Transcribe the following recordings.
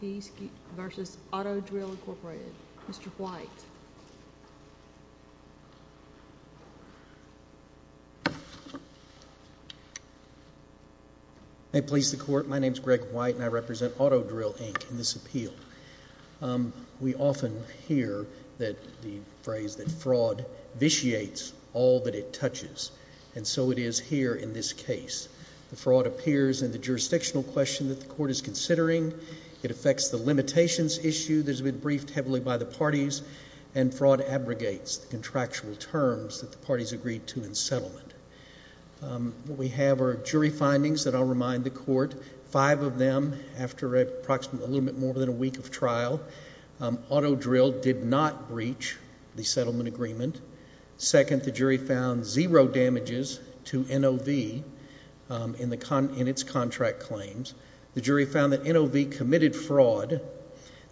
v. Auto-Drill, Inc. Mr. White. May it please the Court. My name is Greg White and I represent Auto-Drill, Inc. in this appeal. We often hear that the phrase that fraud vitiates all that it touches. And so it is here in this case. The fraud appears in the jurisdictional question that the Court is considering. It affects the limitations issue that has been briefed heavily by the parties, and fraud abrogates the contractual terms that the parties agreed to in settlement. What we have are jury findings that I'll remind the Court. Five of them, after approximately a little bit more than a week of trial, Auto-Drill did not breach the settlement agreement. Second, the jury found zero damages to NOV in its contract claims. The jury found that NOV committed fraud.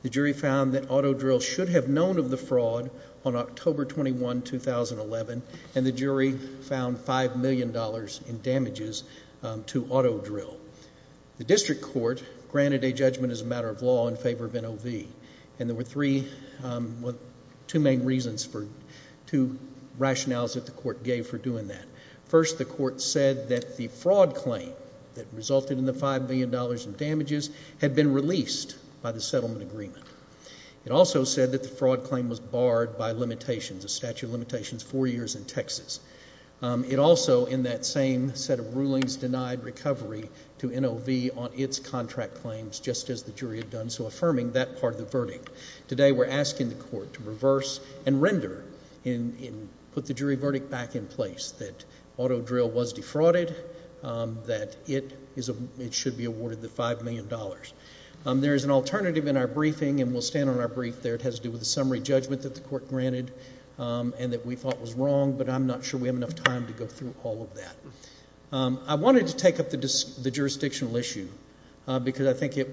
The jury found that Auto-Drill should have known of the fraud on October 21, 2011. And the jury found $5 million in damages to Auto-Drill. The District Court granted a judgment as a matter of law in favor of NOV. And there were two main reasons, two rationales that the Court gave for doing that. First, the Court said that the fraud claim that resulted in the $5 million in damages had been released by the settlement agreement. It also said that the fraud claim was barred by limitations, a statute of limitations, four years in Texas. It also, in that same set of rulings, denied recovery to NOV on its contract claims, just as the jury had done, so affirming that part of the verdict. Today, we're asking the Court to reverse and render and put the jury verdict back in place, that Auto-Drill was defrauded, that it should be awarded the $5 million. There is an alternative in our briefing, and we'll stand on our brief there. It has to do with the summary judgment that the Court granted and that we thought was wrong, but I'm not sure we have enough time to go through all of that. I wanted to take up the jurisdictional issue, because I think it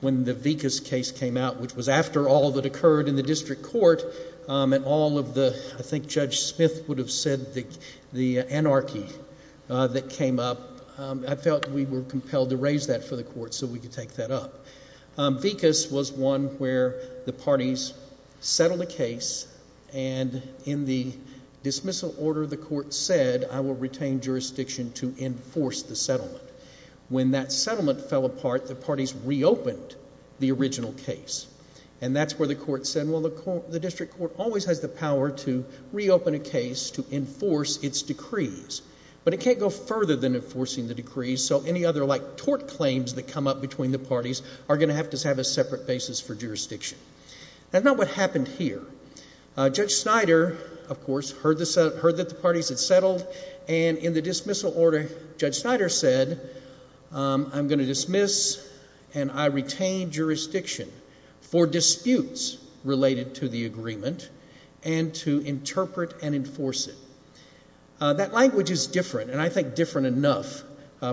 when the Vikas case came out, which was after all that occurred in the I think Judge Smith would have said the anarchy that came up, I felt we were compelled to raise that for the Court so we could take that up. Vikas was one where the parties settled a case, and in the dismissal order, the Court said, I will retain jurisdiction to enforce the settlement. When that settlement fell apart, the parties reopened the original case, and that's where the Court said, the District Court always has the power to reopen a case to enforce its decrees, but it can't go further than enforcing the decrees so any other tort claims that come up between the parties are going to have to have a separate basis for jurisdiction. That's not what happened here. Judge Snyder, of course, heard that the parties had settled and in the dismissal order, Judge Snyder said I'm going to dismiss and I retain jurisdiction for disputes related to the agreement and to interpret and enforce it. That language is different, and I think different enough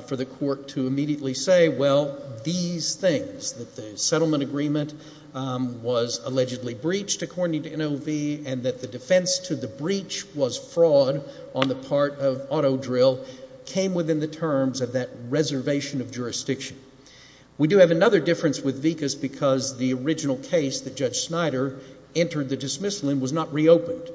for the Court to immediately say well, these things, that the settlement agreement was allegedly breached according to NOV and that the defense to the breach was fraud on the part of auto drill came within the terms of that reservation of jurisdiction. We do have another difference with VCAS because the original case that Judge Snyder entered the dismissal in was not reopened.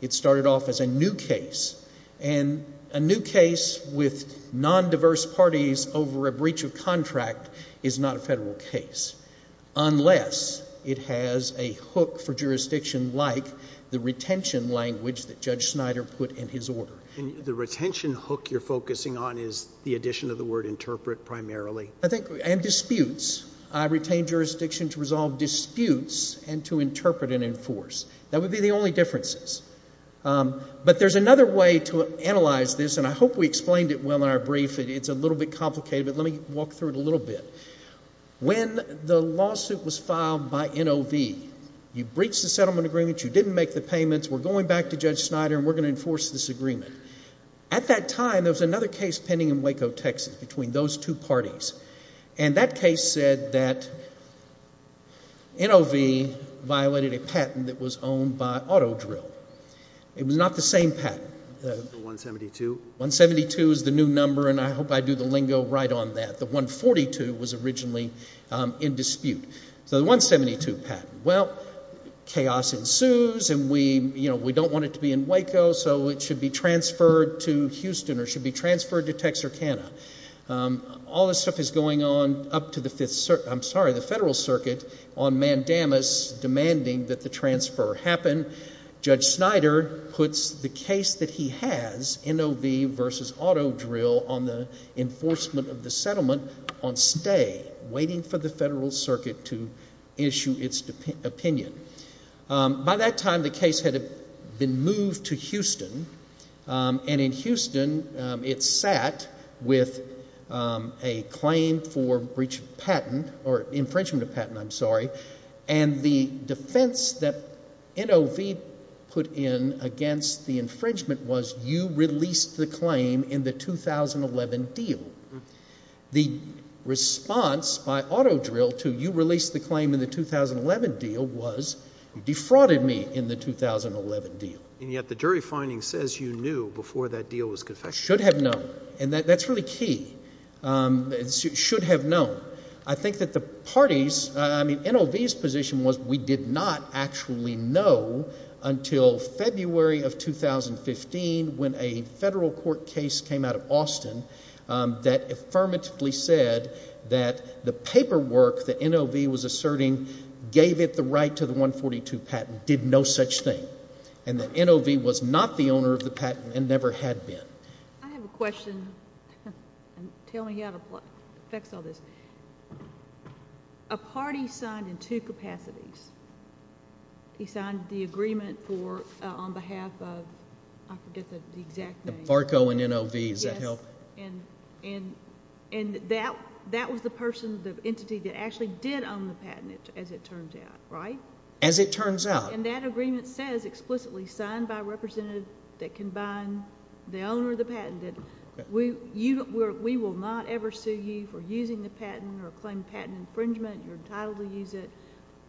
It started off as a new case, and a new case with non-diverse parties over a breach of contract is not a Federal case unless it has a hook for jurisdiction like the retention language that Judge Snyder put in his order. The retention hook you're focusing on is the addition of the word interpret primarily. And disputes. I retain jurisdiction to resolve disputes and to interpret and enforce. That would be the only differences. But there's another way to analyze this, and I hope we explained it well in our brief. It's a little bit complicated, but let me walk through it a little bit. When the lawsuit was filed by NOV, you breached the settlement agreement, you didn't make the payments, we're going back to Judge Snyder and we're going to enforce this agreement. At that time, there was another case pending in Waco, Texas, between those two parties. And that case said that NOV violated a patent that was owned by Autodrill. It was not the same patent. 172 is the new number, and I hope I do the lingo right on that. The 142 was originally in dispute. So the 172 patent. Well, chaos ensues and we don't want it to be in Waco, so it should be transferred to Texarkana. All this stuff is going on up to the Federal Circuit on Mandamus demanding that the transfer happen. Judge Snyder puts the case that he has, NOV v. Autodrill, on the enforcement of the settlement on stay, waiting for the Federal Circuit to issue its opinion. By that time, the case had been moved to Houston. And in Houston, it sat with a claim for breach of patent, or infringement of patent, I'm sorry. And the defense that NOV put in against the infringement was, you released the claim in the 2011 deal. The response by Autodrill to, you released the claim in the 2011 deal, was, you defrauded me in the 2011 deal. And yet the jury finding says you knew before that deal was confected. Should have known. And that's really key. Should have known. I think that the parties, I mean, NOV's position was, we did not actually know until February of 2015 when a federal court case came out of Austin that affirmatively said that the paperwork that NOV was asserting gave it the right to the 142 patent did no such thing. And that NOV was not the owner of the patent and never had been. I have a question. Tell me how to fix all this. A party signed in two capacities. He signed the agreement for, on behalf of, I forget the exact name. FARCO and NOV, does that help? Yes. And that was the person, the entity that actually did own the patent, as it turns out, right? As it turns out. And that agreement says explicitly signed by a representative that can bind the owner of the patent. We will not ever sue you for using the patent or claim patent infringement. You're entitled to use it.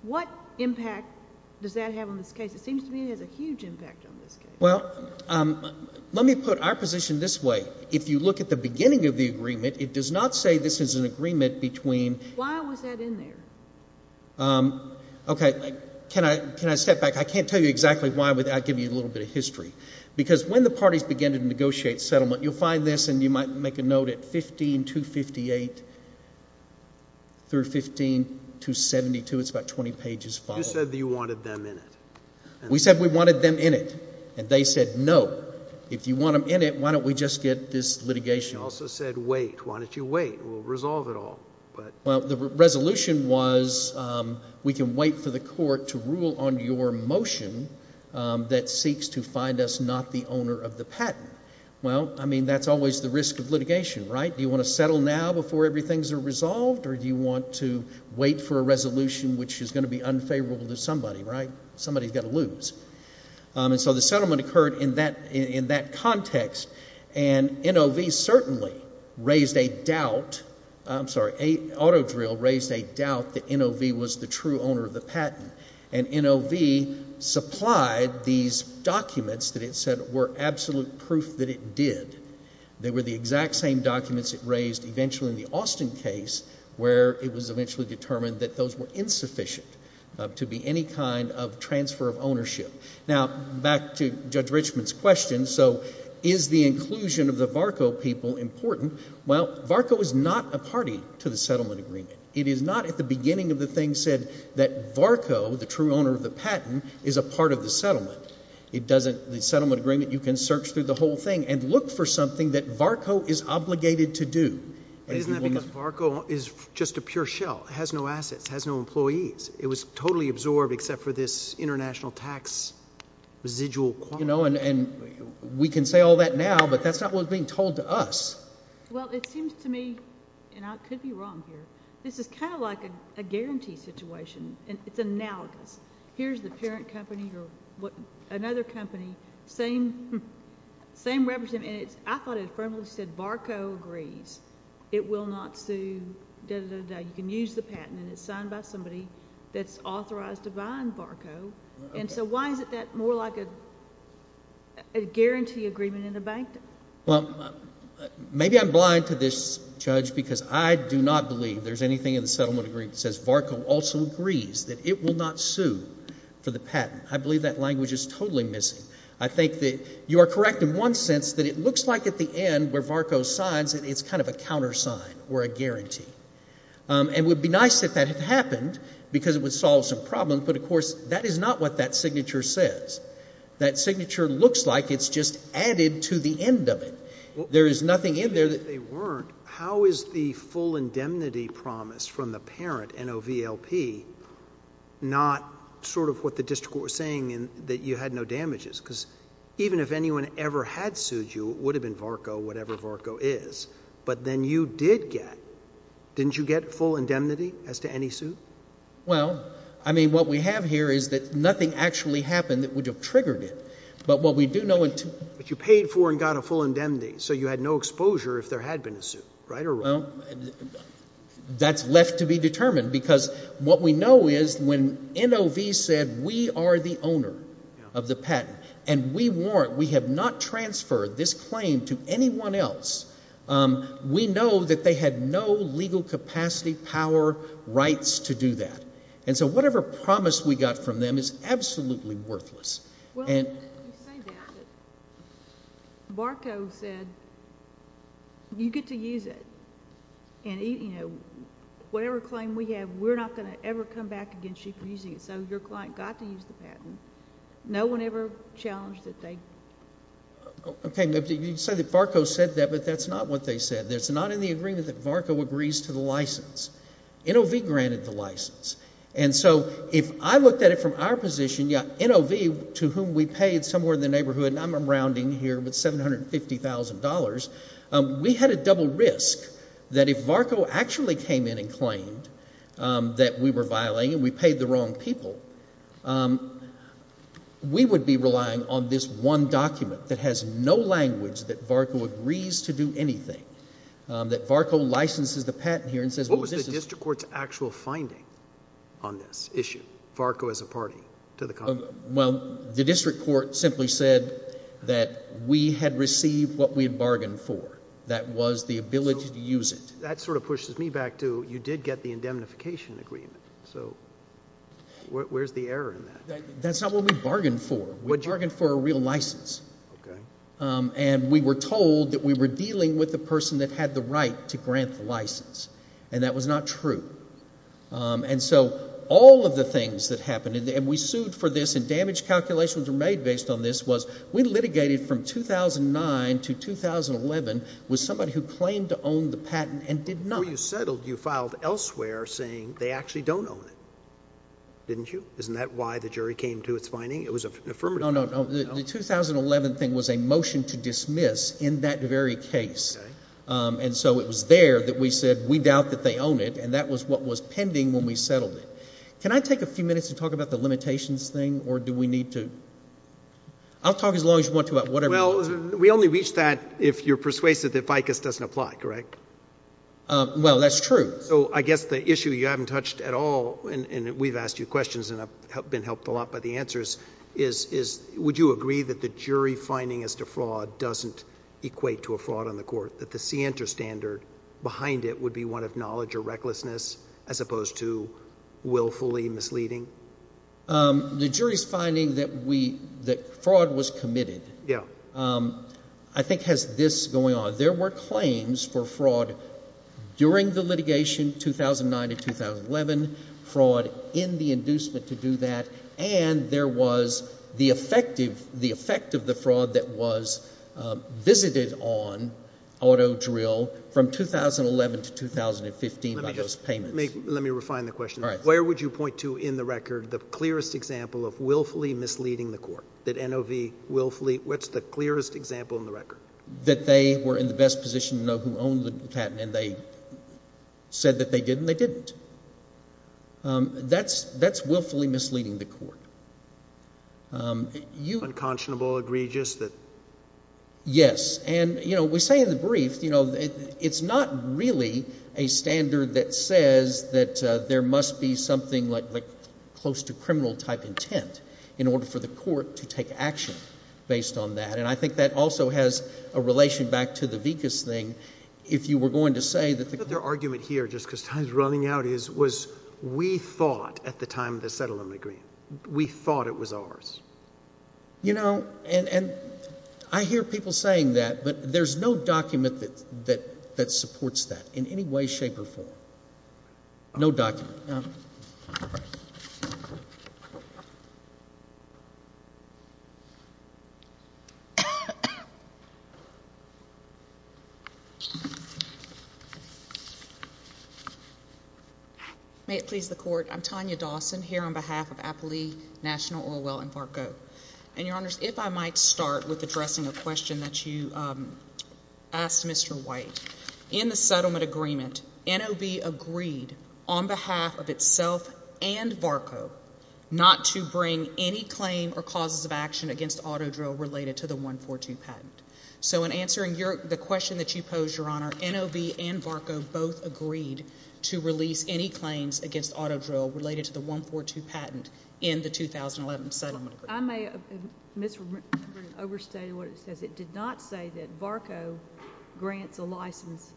What impact does that have on this case? It seems to me it has a huge impact on this case. Well, let me put our position this way. If you look at the beginning of the agreement, it does not say this is an agreement between... Why was that in there? Okay. Can I step back? I can't tell you exactly why without giving you a little bit of history. Because when the parties begin to negotiate settlement, you'll find this, and you might make a note at 15258 through 15272. It's about 20 pages followed. You said that you wanted them in it. We said we wanted them in it. And they said no. If you want them in it, why don't we just get this litigation? You also said wait. Why don't you wait? We'll resolve it all. Well, the resolution was we can wait for the court to rule on your motion that seeks to find us not the owner of the patent. Well, I mean, that's always the risk of litigation, right? Do you want to settle now before everything's resolved? Or do you want to wait for a resolution which is going to be unfavorable to somebody, right? Somebody's got to lose. And so the settlement occurred in that context. And NOV certainly raised a doubt. I'm sorry. Autodrill raised a doubt that NOV was the true owner of the patent. And NOV supplied these documents that it said were absolute proof that it did. They were the exact same documents it raised eventually in the Austin case where it was eventually determined that those were insufficient to be any kind of transfer of ownership. Now, back to Judge Richman's question. So is the inclusion of the VARCO people important? Well, VARCO is not a party to the settlement agreement. It is not at the beginning of the thing said that VARCO, the true owner of the patent, is a part of the settlement. The settlement agreement, you can search through the whole thing and look for something that VARCO is obligated to do. Isn't that because VARCO is just a pure shell? It has no assets. It has no employees. It was totally absorbed except for this international tax residual quality. We can say all that now, but that's not what's being told to us. Well, it seems to me, and I could be wrong here, this is kind of like a guarantee situation. It's analogous. Here's the parent company or another company. I thought it firmly said VARCO agrees. It will not sue. You can use the patent. It's signed by somebody that's authorized to buy in VARCO. And so why is that more like a guarantee agreement in the bank? Well, maybe I'm blind to this judge because I do not believe there's anything in the settlement agreement that says VARCO also agrees that it will not sue for the patent. I believe that language is totally missing. I think that you are correct in one sense, that it looks like at the end where VARCO signs that it's kind of a countersign or a guarantee. And it would be nice if that had happened because it would solve some problems. But, of course, that is not what that signature says. That signature looks like it's just added to the end of it. There is nothing in there. If they weren't, how is the full indemnity promise from the parent, NOVLP, not sort of what the district court was saying, that you had no damages? Because even if anyone ever had sued you, it would have been VARCO, whatever VARCO is. But then you did get, didn't you get full indemnity as to any suit? Well, I mean, what we have here is that nothing actually happened that would have triggered it. But what we do know But you paid for and got a full indemnity, so you had no exposure if there had been a suit, right or wrong? Well, that's left to be determined because what we know is when NOV said we are the owner of the patent and we warrant, we have not transferred this claim to anyone else, we know that they had no legal capacity, power, rights to do that. And so whatever promise we got from them is absolutely worthless. You say that, but VARCO said you get to use it and whatever claim we have, we're not going to ever come back against you for using it. So your client got to use the patent. No one ever challenged that they Okay, you say that VARCO said that, but that's not what they said. It's not in the agreement that VARCO agrees to the license. NOV granted the license. And so if I looked at it from our position, NOV, to whom we paid somewhere in the neighborhood, and I'm rounding here with $750,000, we had a double risk that if VARCO actually came in and claimed that we were violating and we paid the wrong people, we would be relying on this one document that has no language that VARCO agrees to do anything. That VARCO licenses the patent here What was the district court's actual finding on this issue? VARCO as a party to the contract? Well, the district court simply said that we had received what we had bargained for. That was the ability to use it. That sort of pushes me back to, you did get the indemnification agreement. So where's the error in that? That's not what we bargained for. We bargained for a real license. And we were told that we were dealing with the person that had the right to grant the license. And that was not true. And so all of the things that happened, and we sued for this and damage calculations were made based on this, was we litigated from 2009 to 2011 with somebody who claimed to own the patent and did not. Before you settled, you filed elsewhere saying they actually don't own it. Didn't you? Isn't that why the jury came to its finding? It was an affirmative claim. The 2011 thing was a motion to dismiss in that very case. And so it was there that we said we doubt that they own it, and that was what was pending when we settled it. Can I take a few minutes to talk about the limitations thing, or do we need to? I'll talk as long as you want to about whatever you want. Well, we only reach that if you're persuasive that ficus doesn't apply, correct? Well, that's true. So I guess the issue you haven't touched at all and we've asked you questions and have been helped a lot by the answers is would you agree that the jury finding as to fraud doesn't equate to a fraud on the court, that the scienter standard behind it would be one of knowledge or recklessness as opposed to willfully misleading? The jury's finding that fraud was committed, I think has this going on. There were claims for fraud during the litigation 2009 to 2011, fraud in the inducement to do that, and there was the effect of the fraud that was visited on auto drill from 2011 to 2015 by those payments. Let me refine the question. Where would you point to in the record the clearest example of willfully misleading the court? What's the clearest example in the record? That they were in the best position to know who owned the patent and they said that they did and they didn't. That's willfully misleading the court. Unconscionable, egregious. Yes, and we say in the brief, it's not really a standard that says that there must be something like close to criminal type intent in order for the court to take action based on that. And I think that also has a relation back to the Vicus thing. If you were going to say that the argument here, just because time is running out, was we thought at the time of the settlement agreement, we thought it was ours. You know, and I hear people saying that, but there's no document that supports that in any way, shape, or form. No document. May it please the Court, I'm Tanya Dawson here on behalf of Applee National Oil Well in Varco. And Your Honors, if I might start with addressing a question that you asked Mr. White. In the settlement agreement, NOB agreed on behalf of itself and Varco not to bring any claim or causes of action against autodrill related to the 142 patent. So in answering the question that you posed, Your Honor, NOB and Varco both agreed to release any claims against autodrill related to the 142 patent in the 2011 settlement agreement. I may have misremembered and overstated what it says. It did not say that Varco grants a license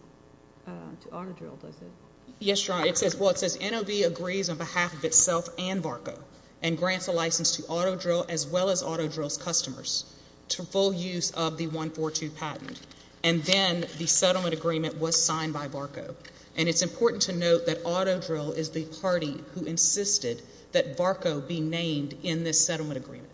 to autodrill, does it? Yes, Your Honor. Well, it says NOB agrees on behalf of itself and Varco and grants a license to autodrill as well as autodrill's customers to full use of the 142 patent. And then the settlement agreement was signed by Varco. And it's important to note that autodrill is the party who insisted that Varco be named in this settlement agreement.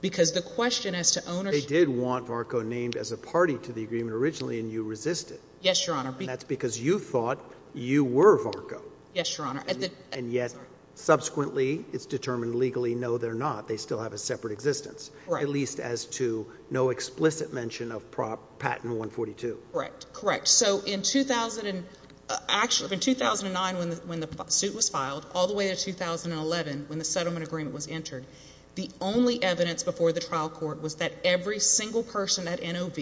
Because the question as to ownership They did want Varco named as a party to the agreement originally and you resisted. Yes, Your Honor. And that's because you thought you were Varco. Yes, Your Honor. And yet, subsequently, it's determined legally, no they're not. They still have a separate existence. At least as to no explicit mention of patent 142. Correct. Correct. So in 2009 when the suit was filed, all the way to 2011 when the settlement agreement was entered, the only evidence before the trial court was that every single person at NOB,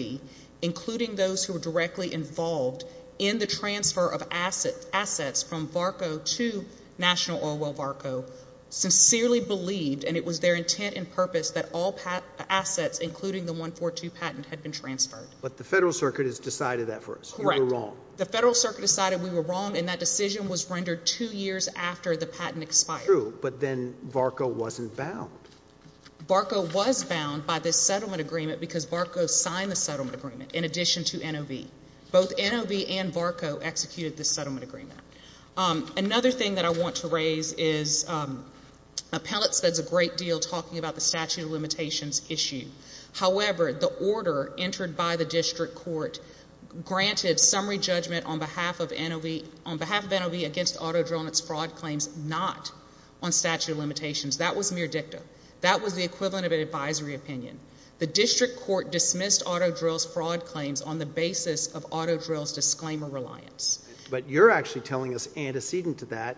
including those who were directly involved in the transfer of assets from Varco to National Oil Well Varco sincerely believed, and it was their intent and purpose, that all assets including the 142 patent had been transferred. But the Federal Circuit has decided that for us. Correct. We were wrong. The Federal Circuit decided we were wrong and that decision was rendered two years after the patent expired. True, but then Varco wasn't bound. Varco was bound by this settlement agreement because Varco signed the settlement agreement in addition to NOB. Both NOB and Varco executed this settlement agreement. Another thing that I want to raise is appellate says a great deal talking about the statute of limitations issue. However, the order entered by the district court granted summary judgment on behalf of NOB against Auto Drill and its fraud claims not on statute of limitations. That was mere dictum. That was the equivalent of an advisory opinion. The district court dismissed Auto Drill's fraud claims on the basis of Auto Drill's disclaimer reliance. But you're actually telling us antecedent to that,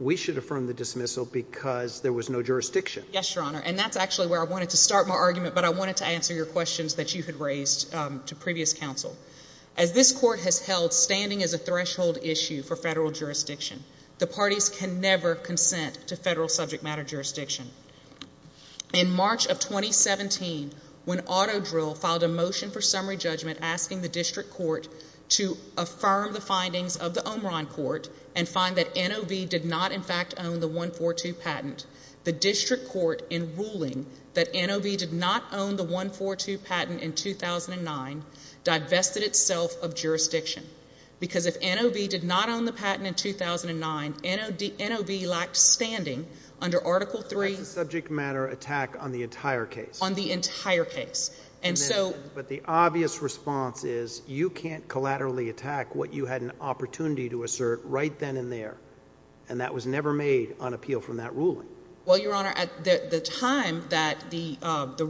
we should affirm the dismissal because there was no jurisdiction. Yes, Your Honor. And that's actually where I wanted to start my argument, but I wanted to answer your questions that you had raised to previous counsel. As this court has held standing as a threshold issue for federal jurisdiction, the parties can never consent to federal subject matter jurisdiction. In March of 2017, when Auto Drill filed a motion for summary judgment asking the district court to affirm the findings of the Omron court and find that NOB did not in fact own the 142 patent, the district court in ruling that NOB did not own the 142 patent in 2009 divested itself of jurisdiction. Because if NOB did not own the patent in 2009, NOB lacked standing under Article III. That's a subject matter attack on the entire case. On the entire case. But the obvious response is you can't collaterally attack what you had an opportunity to assert right then and there. And that was never made on appeal from that ruling. Well, Your Honor, at the time that the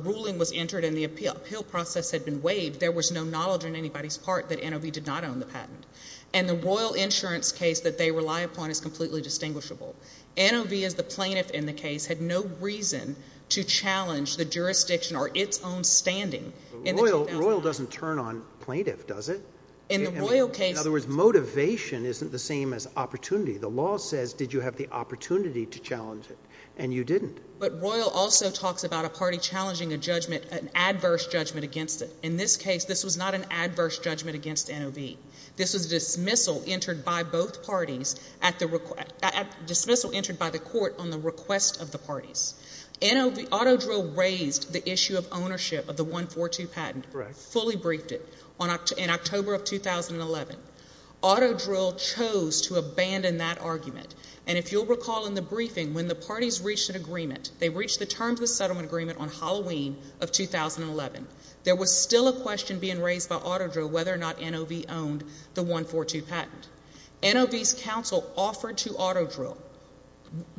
ruling was entered and the appeal process had been waived, there was no knowledge on anybody's part that NOB did not own the patent. And the Royal Insurance case that they rely upon is completely distinguishable. NOB as the plaintiff in the case had no reason to challenge the jurisdiction or its own standing in the 2009. Royal doesn't turn on plaintiff, does it? In the Royal case In other words, motivation isn't the same as opportunity. The law says, did you have the opportunity to challenge it? And you didn't. But Royal also talks about a party challenging a judgment, an adverse judgment against it. In this case this was not an adverse judgment against NOB. This was a dismissal entered by both parties at the request, dismissal entered by the court on the request of the parties. NOB, Autodrill raised the issue of ownership of the 142 patent. Correct. Fully briefed it in October of 2011. Autodrill chose to abandon that argument. And if you'll recall in the briefing, when the parties reached an agreement, they reached the terms of the settlement agreement on Halloween of 2011. There was still a question being raised by Autodrill whether or not NOB owned the 142 patent. NOB's counsel offered to Autodrill,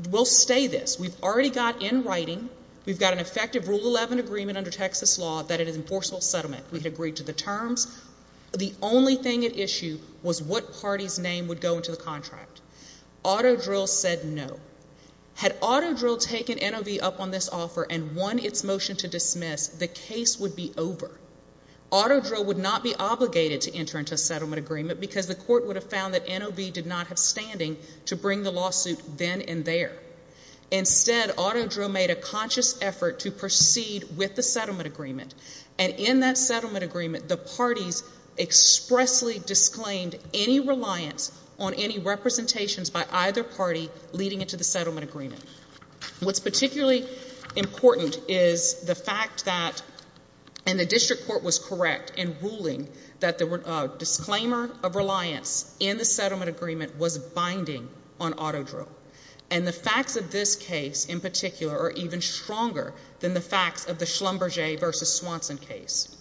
we'll stay this. We've already got in writing, we've got an effective Rule 11 agreement under Texas law that it is an enforceable settlement. We had agreed to the terms. The only thing at issue was what party's name would go into the contract. Autodrill said no. Had Autodrill taken NOB up on this offer and won its motion to dismiss, the case would be over. Autodrill would not be obligated to enter into a settlement agreement because the court would have found that NOB did not have standing to bring the lawsuit then and there. Instead, Autodrill made a conscious effort to proceed with the settlement agreement. And in that settlement agreement, the parties expressly disclaimed any reliance on any representations by either party leading into the settlement agreement. What's particularly important is the fact that and the district court was correct in ruling that the disclaimer of reliance in the settlement agreement was binding on Autodrill. And the facts of this case in particular are even stronger than the facts of the Schlumberger v. Swanson case.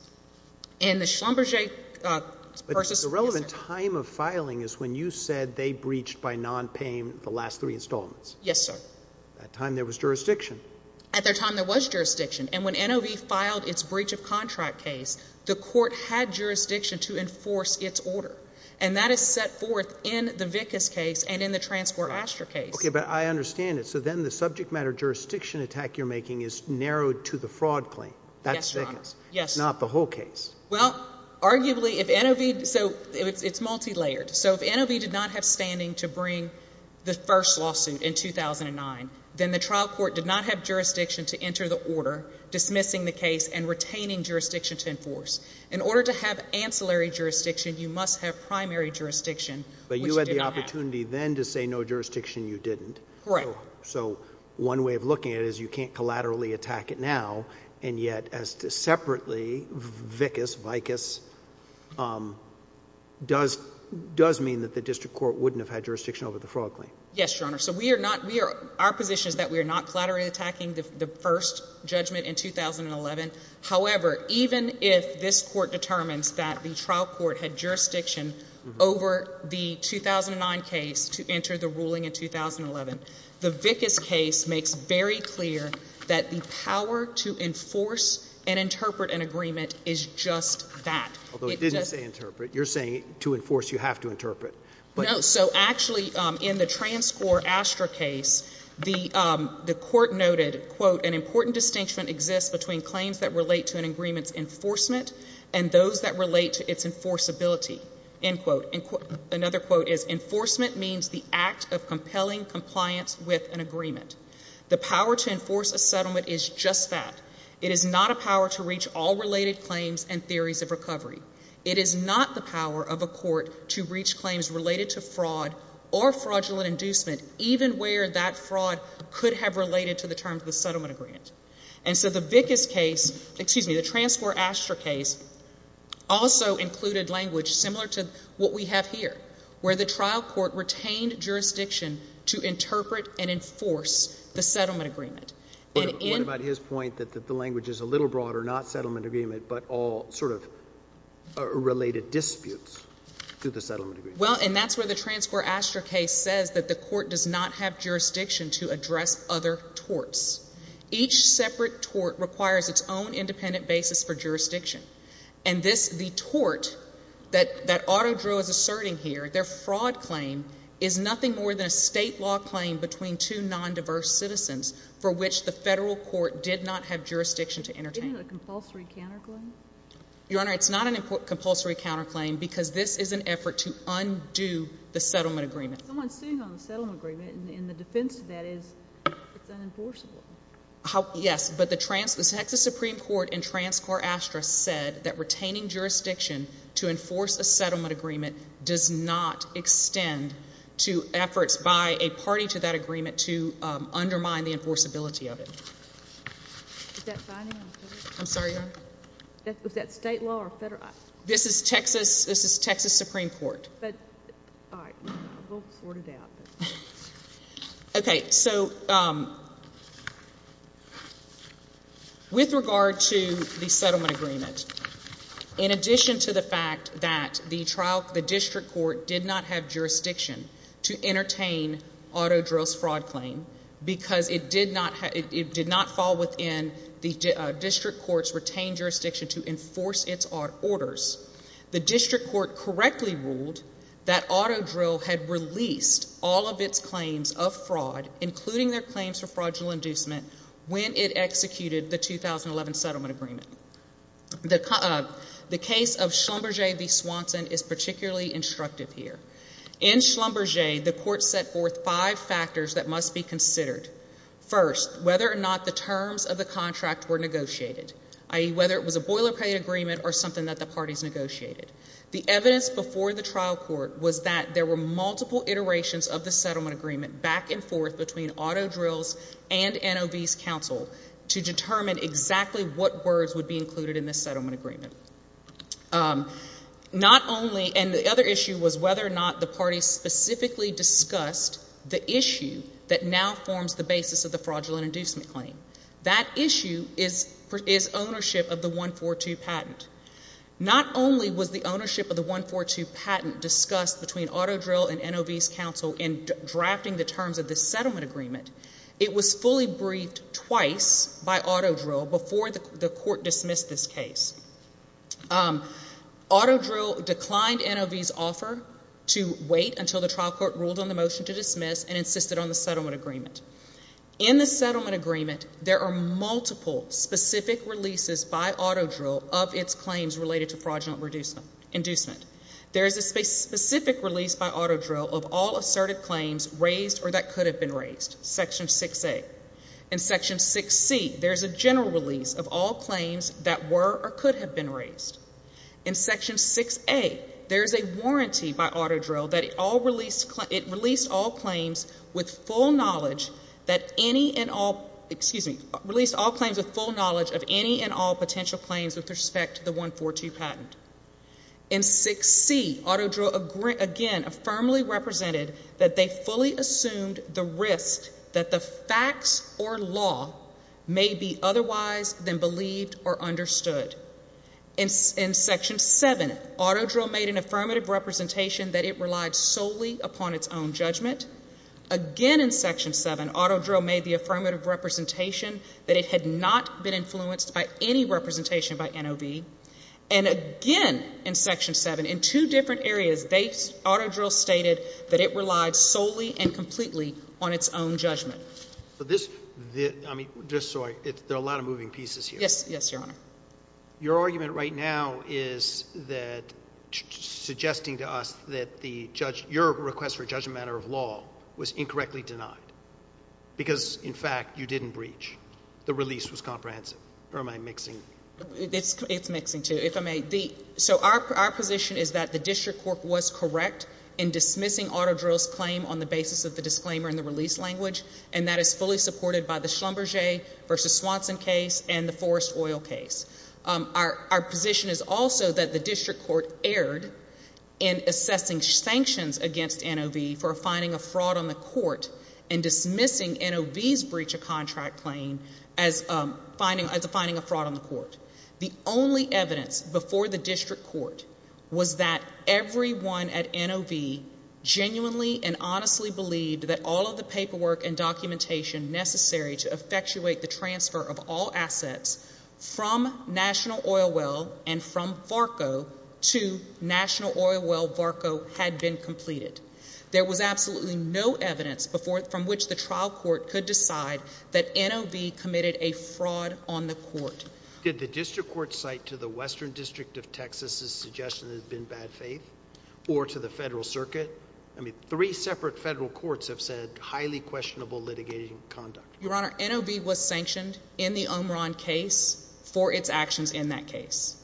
And the Schlumberger v. Swanson case But the relevant time of filing is when you said they breached by non-payment the last three installments. Yes, sir. At the time there was jurisdiction. At the time there was jurisdiction. And when NOB filed its breach of contract case, the court had jurisdiction to enforce its order. And that is set forth in the Vickas case and in the Transport Astor case. Okay, but I understand it. So then the subject matter jurisdiction attack you're making is narrowed to the fraud claim. That's Vickas. Yes, Your Honor. Not the whole case. Well, arguably if NOB, so it's multi-layered. So if NOB did not have standing to bring the first lawsuit in 2009, then the trial court did not have jurisdiction to enter the order dismissing the case and retaining jurisdiction to enforce. In order to have ancillary jurisdiction, you must have primary jurisdiction. But you had the opportunity then to say no so one way of looking at it is you can't collaterally attack it now and yet as to separately, Vickas does mean that the district court wouldn't have had jurisdiction over the fraud claim. Yes, Your Honor. So we are not, our position is that we are not collaterally attacking the first judgment in 2011. However, even if this court determines that the trial court had jurisdiction over the 2009 case to enter the ruling in 2011, the Vickas case makes very clear that the power to enforce and interpret an agreement is just that. Although it didn't say interpret. You're saying to enforce you have to interpret. No, so actually in the TransCore Astra case, the court noted, quote, an important distinction exists between claims that relate to an agreement's enforcement and those that relate to its enforceability. End quote. Another quote is enforcement means the act of compelling compliance with an agreement. The power to enforce a settlement is just that. It is not a power to reach all related claims and theories of recovery. It is not the power of a court to reach claims related to fraud or fraudulent inducement even where that fraud could have related to the terms of the settlement agreement. And so the Vickas case, excuse me, the TransCore Astra case also included language similar to what we have here where the trial court retained jurisdiction to interpret and enforce the settlement agreement. What about his point that the language is a little broader, not settlement agreement, but all sort of related disputes to the settlement agreement? Well, and that's where the TransCore Astra case says that the court does not have jurisdiction to address other torts. Each separate tort requires its own independent basis for jurisdiction. And this, the tort that Otto Drew is asserting here, their fraud claim is nothing more than a state law claim between two non-diverse citizens for which the federal court did not have jurisdiction to entertain. Isn't it a compulsory counterclaim? Your Honor, it's not a compulsory counterclaim because this is an effort to undo the settlement agreement. Someone's sitting on the settlement agreement and the defense to that is it's unenforceable. Yes, but the Texas Supreme Court in TransCore Astra said that retaining jurisdiction to enforce a settlement agreement does not extend to efforts by a party to that agreement to undermine the enforceability of it. Is that binding on federal? I'm sorry, Your Honor? Is that state law or federal? This is Texas, this is Texas Supreme Court. But, all right, we'll sort it out. Okay, so with regard to the settlement agreement, in addition to the fact that the district court did not have jurisdiction to entertain Otto Drew's fraud claim because it did not fall within the district court's retained jurisdiction to enforce its orders, the district court correctly ruled that Otto Drew had released all of its claims of fraud, including their claims for fraudulent inducement, when it executed the 2011 settlement agreement. The case of Schlumberger v. Swanson is particularly instructive here. In Schlumberger, the court set forth five factors that must be considered. First, whether or not the terms of the contract were negotiated, i.e., whether it was a boilerplate agreement or something that the parties negotiated. The evidence before the trial court was that there were multiple iterations of the settlement agreement back and forth between Otto Drew's and NOV's counsel to determine exactly what words would be included in this settlement agreement. Not only and the other issue was whether or not the parties specifically discussed the issue that now forms the basis of the fraudulent inducement claim. That issue is ownership of the 142 patent. Not only was the ownership of the 142 patent discussed between Otto Drew and NOV's counsel in drafting the terms of this settlement agreement, it was fully briefed twice by Otto Drew before the court dismissed this case. Otto Drew declined NOV's offer to wait until the trial court ruled on the motion to dismiss and insisted on the settlement agreement. In the settlement agreement, there are multiple specific releases by Otto Drew of its claims related to fraudulent inducement. There is a specific release by Otto Drew of all assertive claims raised or that could have been raised, section 6A. In section 6C, there is a general release of all claims that were or could have been raised. In section 6A, there is a warranty by Otto Drew that it released all claims with full knowledge that any and all potential claims with respect to the 142 patent. In 6C, Otto Drew again firmly represented that they fully assumed the risk that the facts or law may be otherwise than believed or understood. In section 7, Otto Drew made an affirmative representation that it relied solely upon its own judgment. Again in section 7, Otto Drew made the affirmative representation that it had not been influenced by any representation by NOB. And again, in section 7, in two different areas, Otto Drew stated that it relied solely and completely on its own judgment. I'm just sorry. There are a lot of moving pieces here. Yes, Your Honor. Your argument right now is that suggesting to us that your request for a judgment of law was incorrectly denied because, in fact, you didn't breach. The release was comprehensive. Or am I mixing? It's mixing, too, if I may. So our position is that the district court was correct in dismissing Otto Drew's claim on the basis of the disclaimer and the release language, and that is fully supported by the Schlumberger v. Swanson case and the Forrest Oil case. Our position is also that the district court erred in assessing sanctions against NOB for finding a fraud on the court and dismissing NOB's breach of contract claim as finding a fraud on the court. The only evidence before the district court was that everyone at NOB genuinely and honestly believed that all of the paperwork and documentation necessary to effectuate the transfer of all assets from National Oil Well and from VARCO to National Oil Well VARCO had been completed. There was absolutely no evidence from which the trial court could decide that NOB committed a fraud on the court. Did the district court cite to the Western District of Texas' suggestion that it had been bad faith, or to the federal circuit? I mean, three separate federal courts have said highly questionable litigating conduct. Your Honor, NOB was sanctioned in the Omron case for its actions in that case.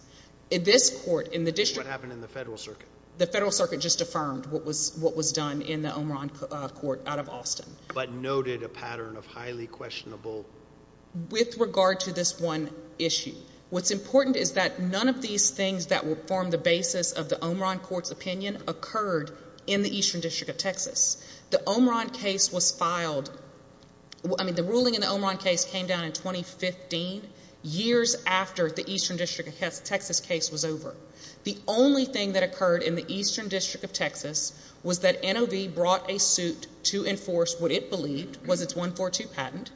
This court in the district... What happened in the federal circuit? The federal circuit just affirmed what was done in the Omron court out of Austin. But noted a pattern of highly questionable... With regard to this one issue, what's important is that none of these things that will form the basis of the Omron court's opinion occurred in the Eastern District of Texas. The Omron case was filed... I mean, the ruling in the Omron case came down in 2015, years after the Eastern District of Texas case was over. The only thing that occurred in the Eastern District of Texas was that NOB brought a suit to enforce what it believed was its 142 patent.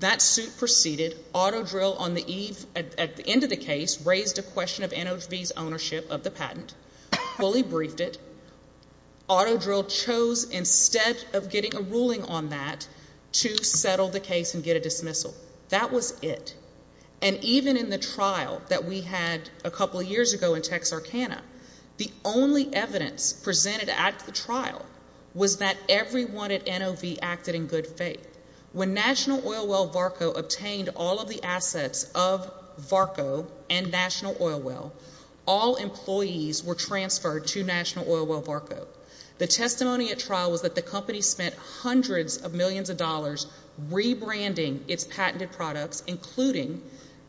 That suit proceeded. Autodrill on the eve... At the end of the case raised a question of NOB's ownership of the patent. Fully briefed it. Autodrill chose, instead of getting a ruling on that, to settle the case and get a dismissal. That was it. And even in the trial that we had a couple years ago in Texarkana, the only evidence presented at the trial was that everyone at NOB acted in good faith. When National Oil Well Varco obtained all of the assets of Varco and National Oil Well, all employees were transferred to National Oil Well Varco. The testimony at trial was that the company spent hundreds of millions of dollars rebranding its patented products, including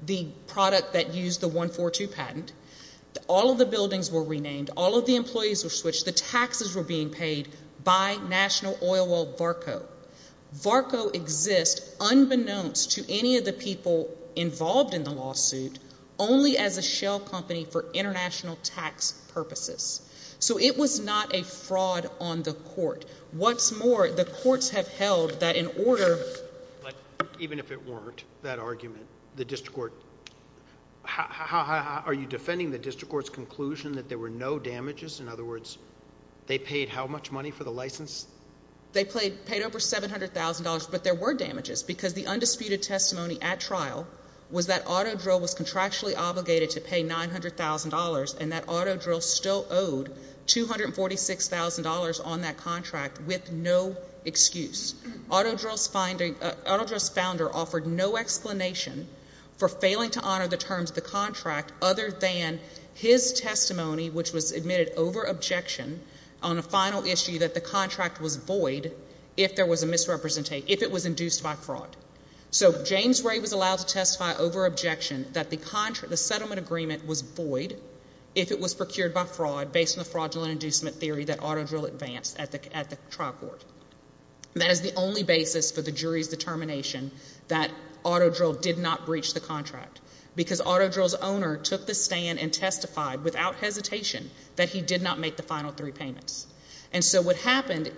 the product that used the 142 patent. All of the buildings were renamed. All of the employees were switched. The taxes were being paid by National Oil Well Varco. Varco exists, unbeknownst to any of the people involved in the lawsuit, only as a shell company for international tax purposes. So it was not a fraud on the court. What's more, the courts have held that in order... Even if it weren't that argument, the district court... Are you defending the district court's conclusion that there were no damages? In other words, they paid how much money for the license? They paid over $700,000, but there were damages because the undisputed testimony at trial was that Autodrill was contractually obligated to pay $900,000 and that Autodrill still owed $246,000 on that contract with no excuse. Autodrill's founder offered no explanation for failing to honor the terms of the contract other than his testimony, which was admitted over objection on a final issue that the contract was void if there was a misrepresentation, if it was induced by fraud. So James Ray was allowed to testify over objection that the settlement agreement was void if it was procured by fraud based on the fraudulent inducement theory that Autodrill advanced at the trial court. That is the only basis for the jury's determination that Autodrill did not breach the contract because Autodrill's owner took the stand and testified without hesitation that he did not make the final three payments. And so what happened...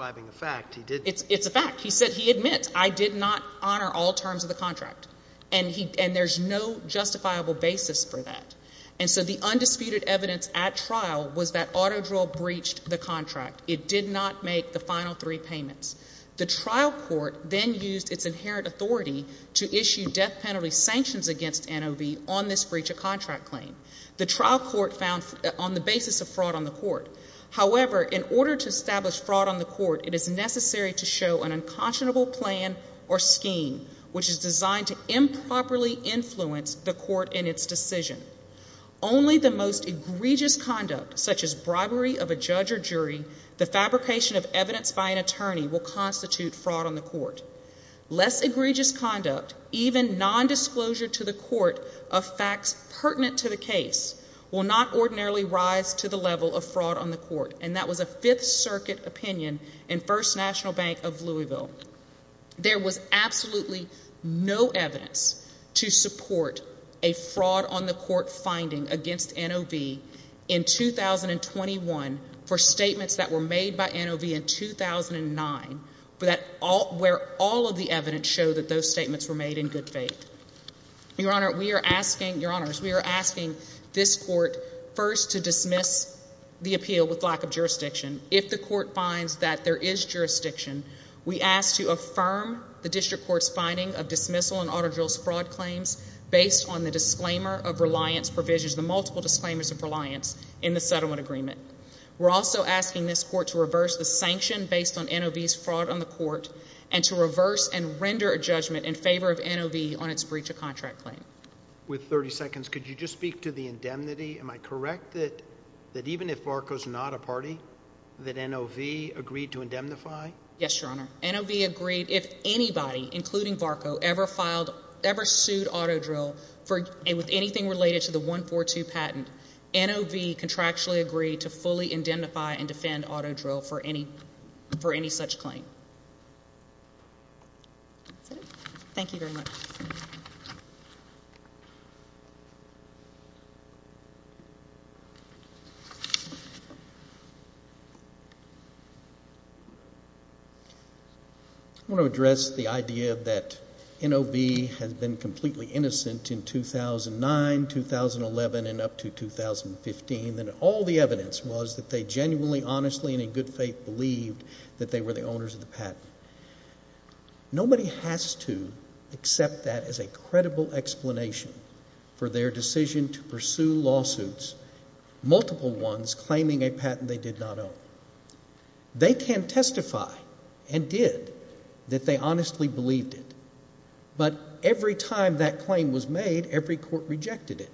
It's a fact. He admits, I did not honor all terms of the contract. And there's no justifiable basis for that. And so the undisputed evidence at trial was that Autodrill breached the contract. It did not make the final three payments. The trial court then used its inherent authority to issue death penalty sanctions against NOV on this breach of contract claim. The trial court found on the basis of fraud on the court. However, in order to establish fraud on the court, it is necessary to show an unconscionable plan or scheme which is designed to improperly influence the court in its decision. Only the most egregious conduct, such as bribery of a judge or jury, the fabrication of evidence by an attorney will constitute fraud on the court. Less egregious conduct, even nondisclosure to the court of facts pertinent to the case, will not ordinarily rise to the level of fraud on the court. And that was a Fifth Circuit opinion in First National Bank of Louisville. There was absolutely no evidence to support a fraud on the court finding against NOV in 2021 for statements that were made by NOV in 2009 where all of the evidence showed that those statements were made in good faith. Your Honor, we are asking this court first to dismiss the appeal with lack of jurisdiction. If the court finds that there is jurisdiction, we ask to affirm the district court's finding of dismissal on Autodrill's fraud claims based on the disclaimer of reliance provisions, the multiple disclaimers of reliance in the settlement agreement. We're also asking this court to reverse the sanction based on NOV's fraud on the court and to reverse and render a judgment in favor of NOV on its breach of contract claim. With 30 seconds, could you just speak to the indemnity? Am I correct that even if VARCO's not a party, that NOV agreed to indemnify? Yes, Your Honor. NOV agreed if anybody, including VARCO, ever sued Autodrill with anything related to a 142 patent, NOV contractually agreed to fully indemnify and defend Autodrill for any such claim. Thank you very much. I want to address the idea that in 2011 and up to 2015, all the evidence was that they genuinely, honestly, and in good faith believed that they were the owners of the patent. Nobody has to accept that as a credible explanation for their decision to pursue lawsuits, multiple ones, claiming a patent they did not own. They can testify, and did, that they honestly believed it. But every time that claim was made, every court rejected it.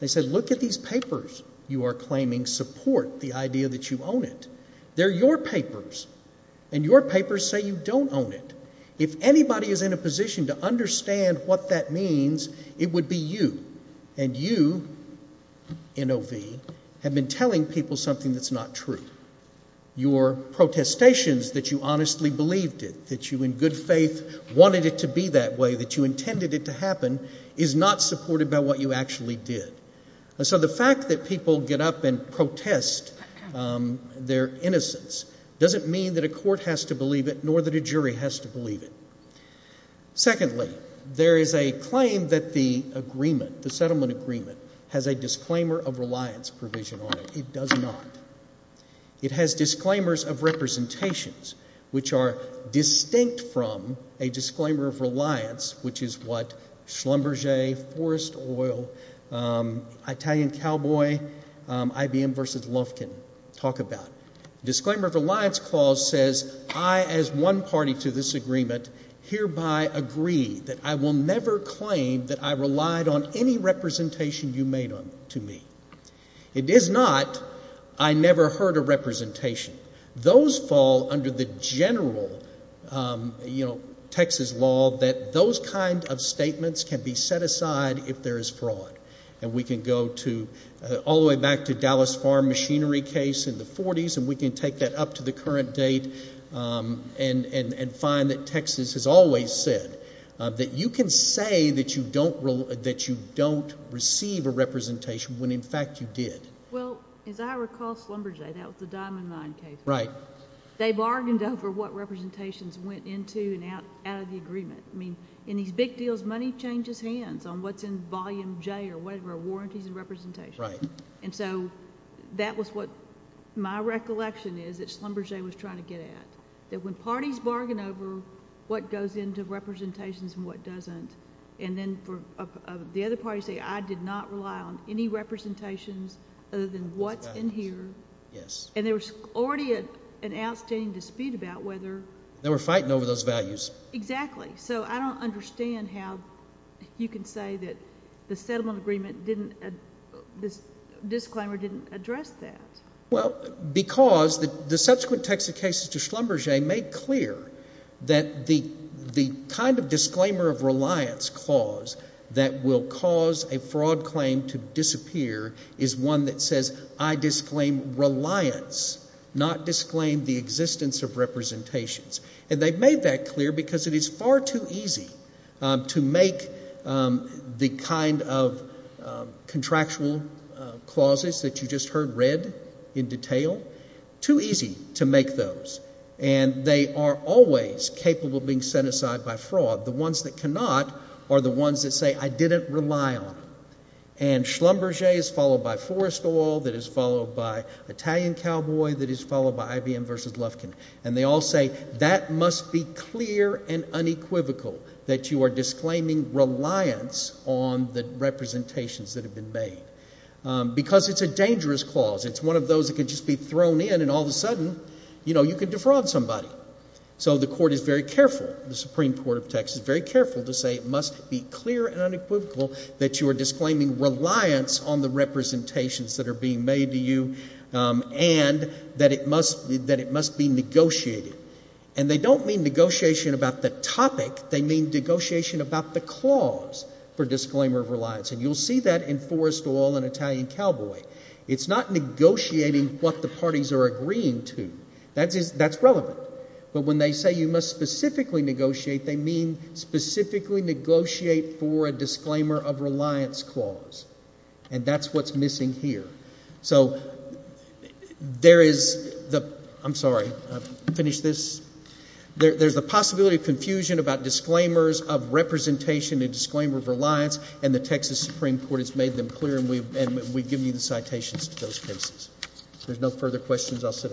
They said, look at these papers you are claiming support the idea that you own it. They're your papers. And your papers say you don't own it. If anybody is in a position to understand what that means, it would be you. And you, NOV, have been telling people something that's not true. Your protestations that you honestly believed it, that you in good faith wanted it to be that way, that you intended it to happen, is not supported by what you actually did. So the fact that people get up and protest their innocence doesn't mean that a court has to believe it, nor that a jury has to believe it. Secondly, there is a claim that the settlement agreement has a disclaimer of reliance provision on it. It does not. It has disclaimers of representations, which are distinct from a Schlumberger, Forrest Oil, Italian Cowboy, IBM versus Lufkin. Talk about it. Disclaimer of reliance clause says, I, as one party to this agreement, hereby agree that I will never claim that I relied on any representation you made to me. It is not, I never heard a representation. Those fall under the general Texas law that those kind of statements can be set aside if there is fraud. And we can go to, all the way back to Dallas Farm machinery case in the 40s, and we can take that up to the current date and find that Texas has always said that you can say that you don't receive a representation when in fact you did. Well, as I recall, Schlumberger, that was the Diamond Mine case. Right. They bargained over what representations went into and out of the agreement. I mean, in these big deals, money changes hands on what's in volume J or whatever, warranties and representations. Right. And so, that was what my recollection is that Schlumberger was trying to get at. That when parties bargain over what goes into representations and what doesn't, and then the other parties say, I did not rely on any representations other than what's in here. Yes. And there was already an outstanding dispute about whether. They were fighting over those values. Exactly. So, I don't understand how you can say that the settlement agreement didn't, this disclaimer didn't address that. Well, because the subsequent Texas cases to Schlumberger made clear that the kind of disclaimer of reliance clause that will cause a fraud claim to disappear is one that says, I disclaim reliance, not disclaim the existence of representations. And they made that clear because it is far too easy to make the kind of contractual clauses that you just heard read in detail, too easy to make those. And they are always capable of being set aside by fraud. The ones that cannot are the ones that say, I didn't rely on them. And Schlumberger is followed by Forrest Oil, that is followed by IBM versus Lufkin. And they all say, that must be clear and unequivocal that you are disclaiming reliance on the representations that have been made. Because it's a dangerous clause. It's one of those that can just be thrown in and all of a sudden you can defraud somebody. So the Court is very careful, the Supreme Court of Texas, very careful to say it must be clear and unequivocal that you are disclaiming reliance on the representations that are being made to you and that it must be negotiated. And they don't mean negotiation about the topic, they mean negotiation about the clause for disclaimer of reliance. And you'll see that in Forrest Oil and Italian Cowboy. It's not negotiating what the parties are agreeing to. That's relevant. But when they say you must specifically negotiate, they mean specifically negotiate for a disclaimer of reliance clause. And that's what's missing here. So there is the possibility of confusion about disclaimers of representation and disclaimer of reliance and the Texas Supreme Court has made them clear and we've given you the citations to those cases. If there's no further questions, I'll sit down.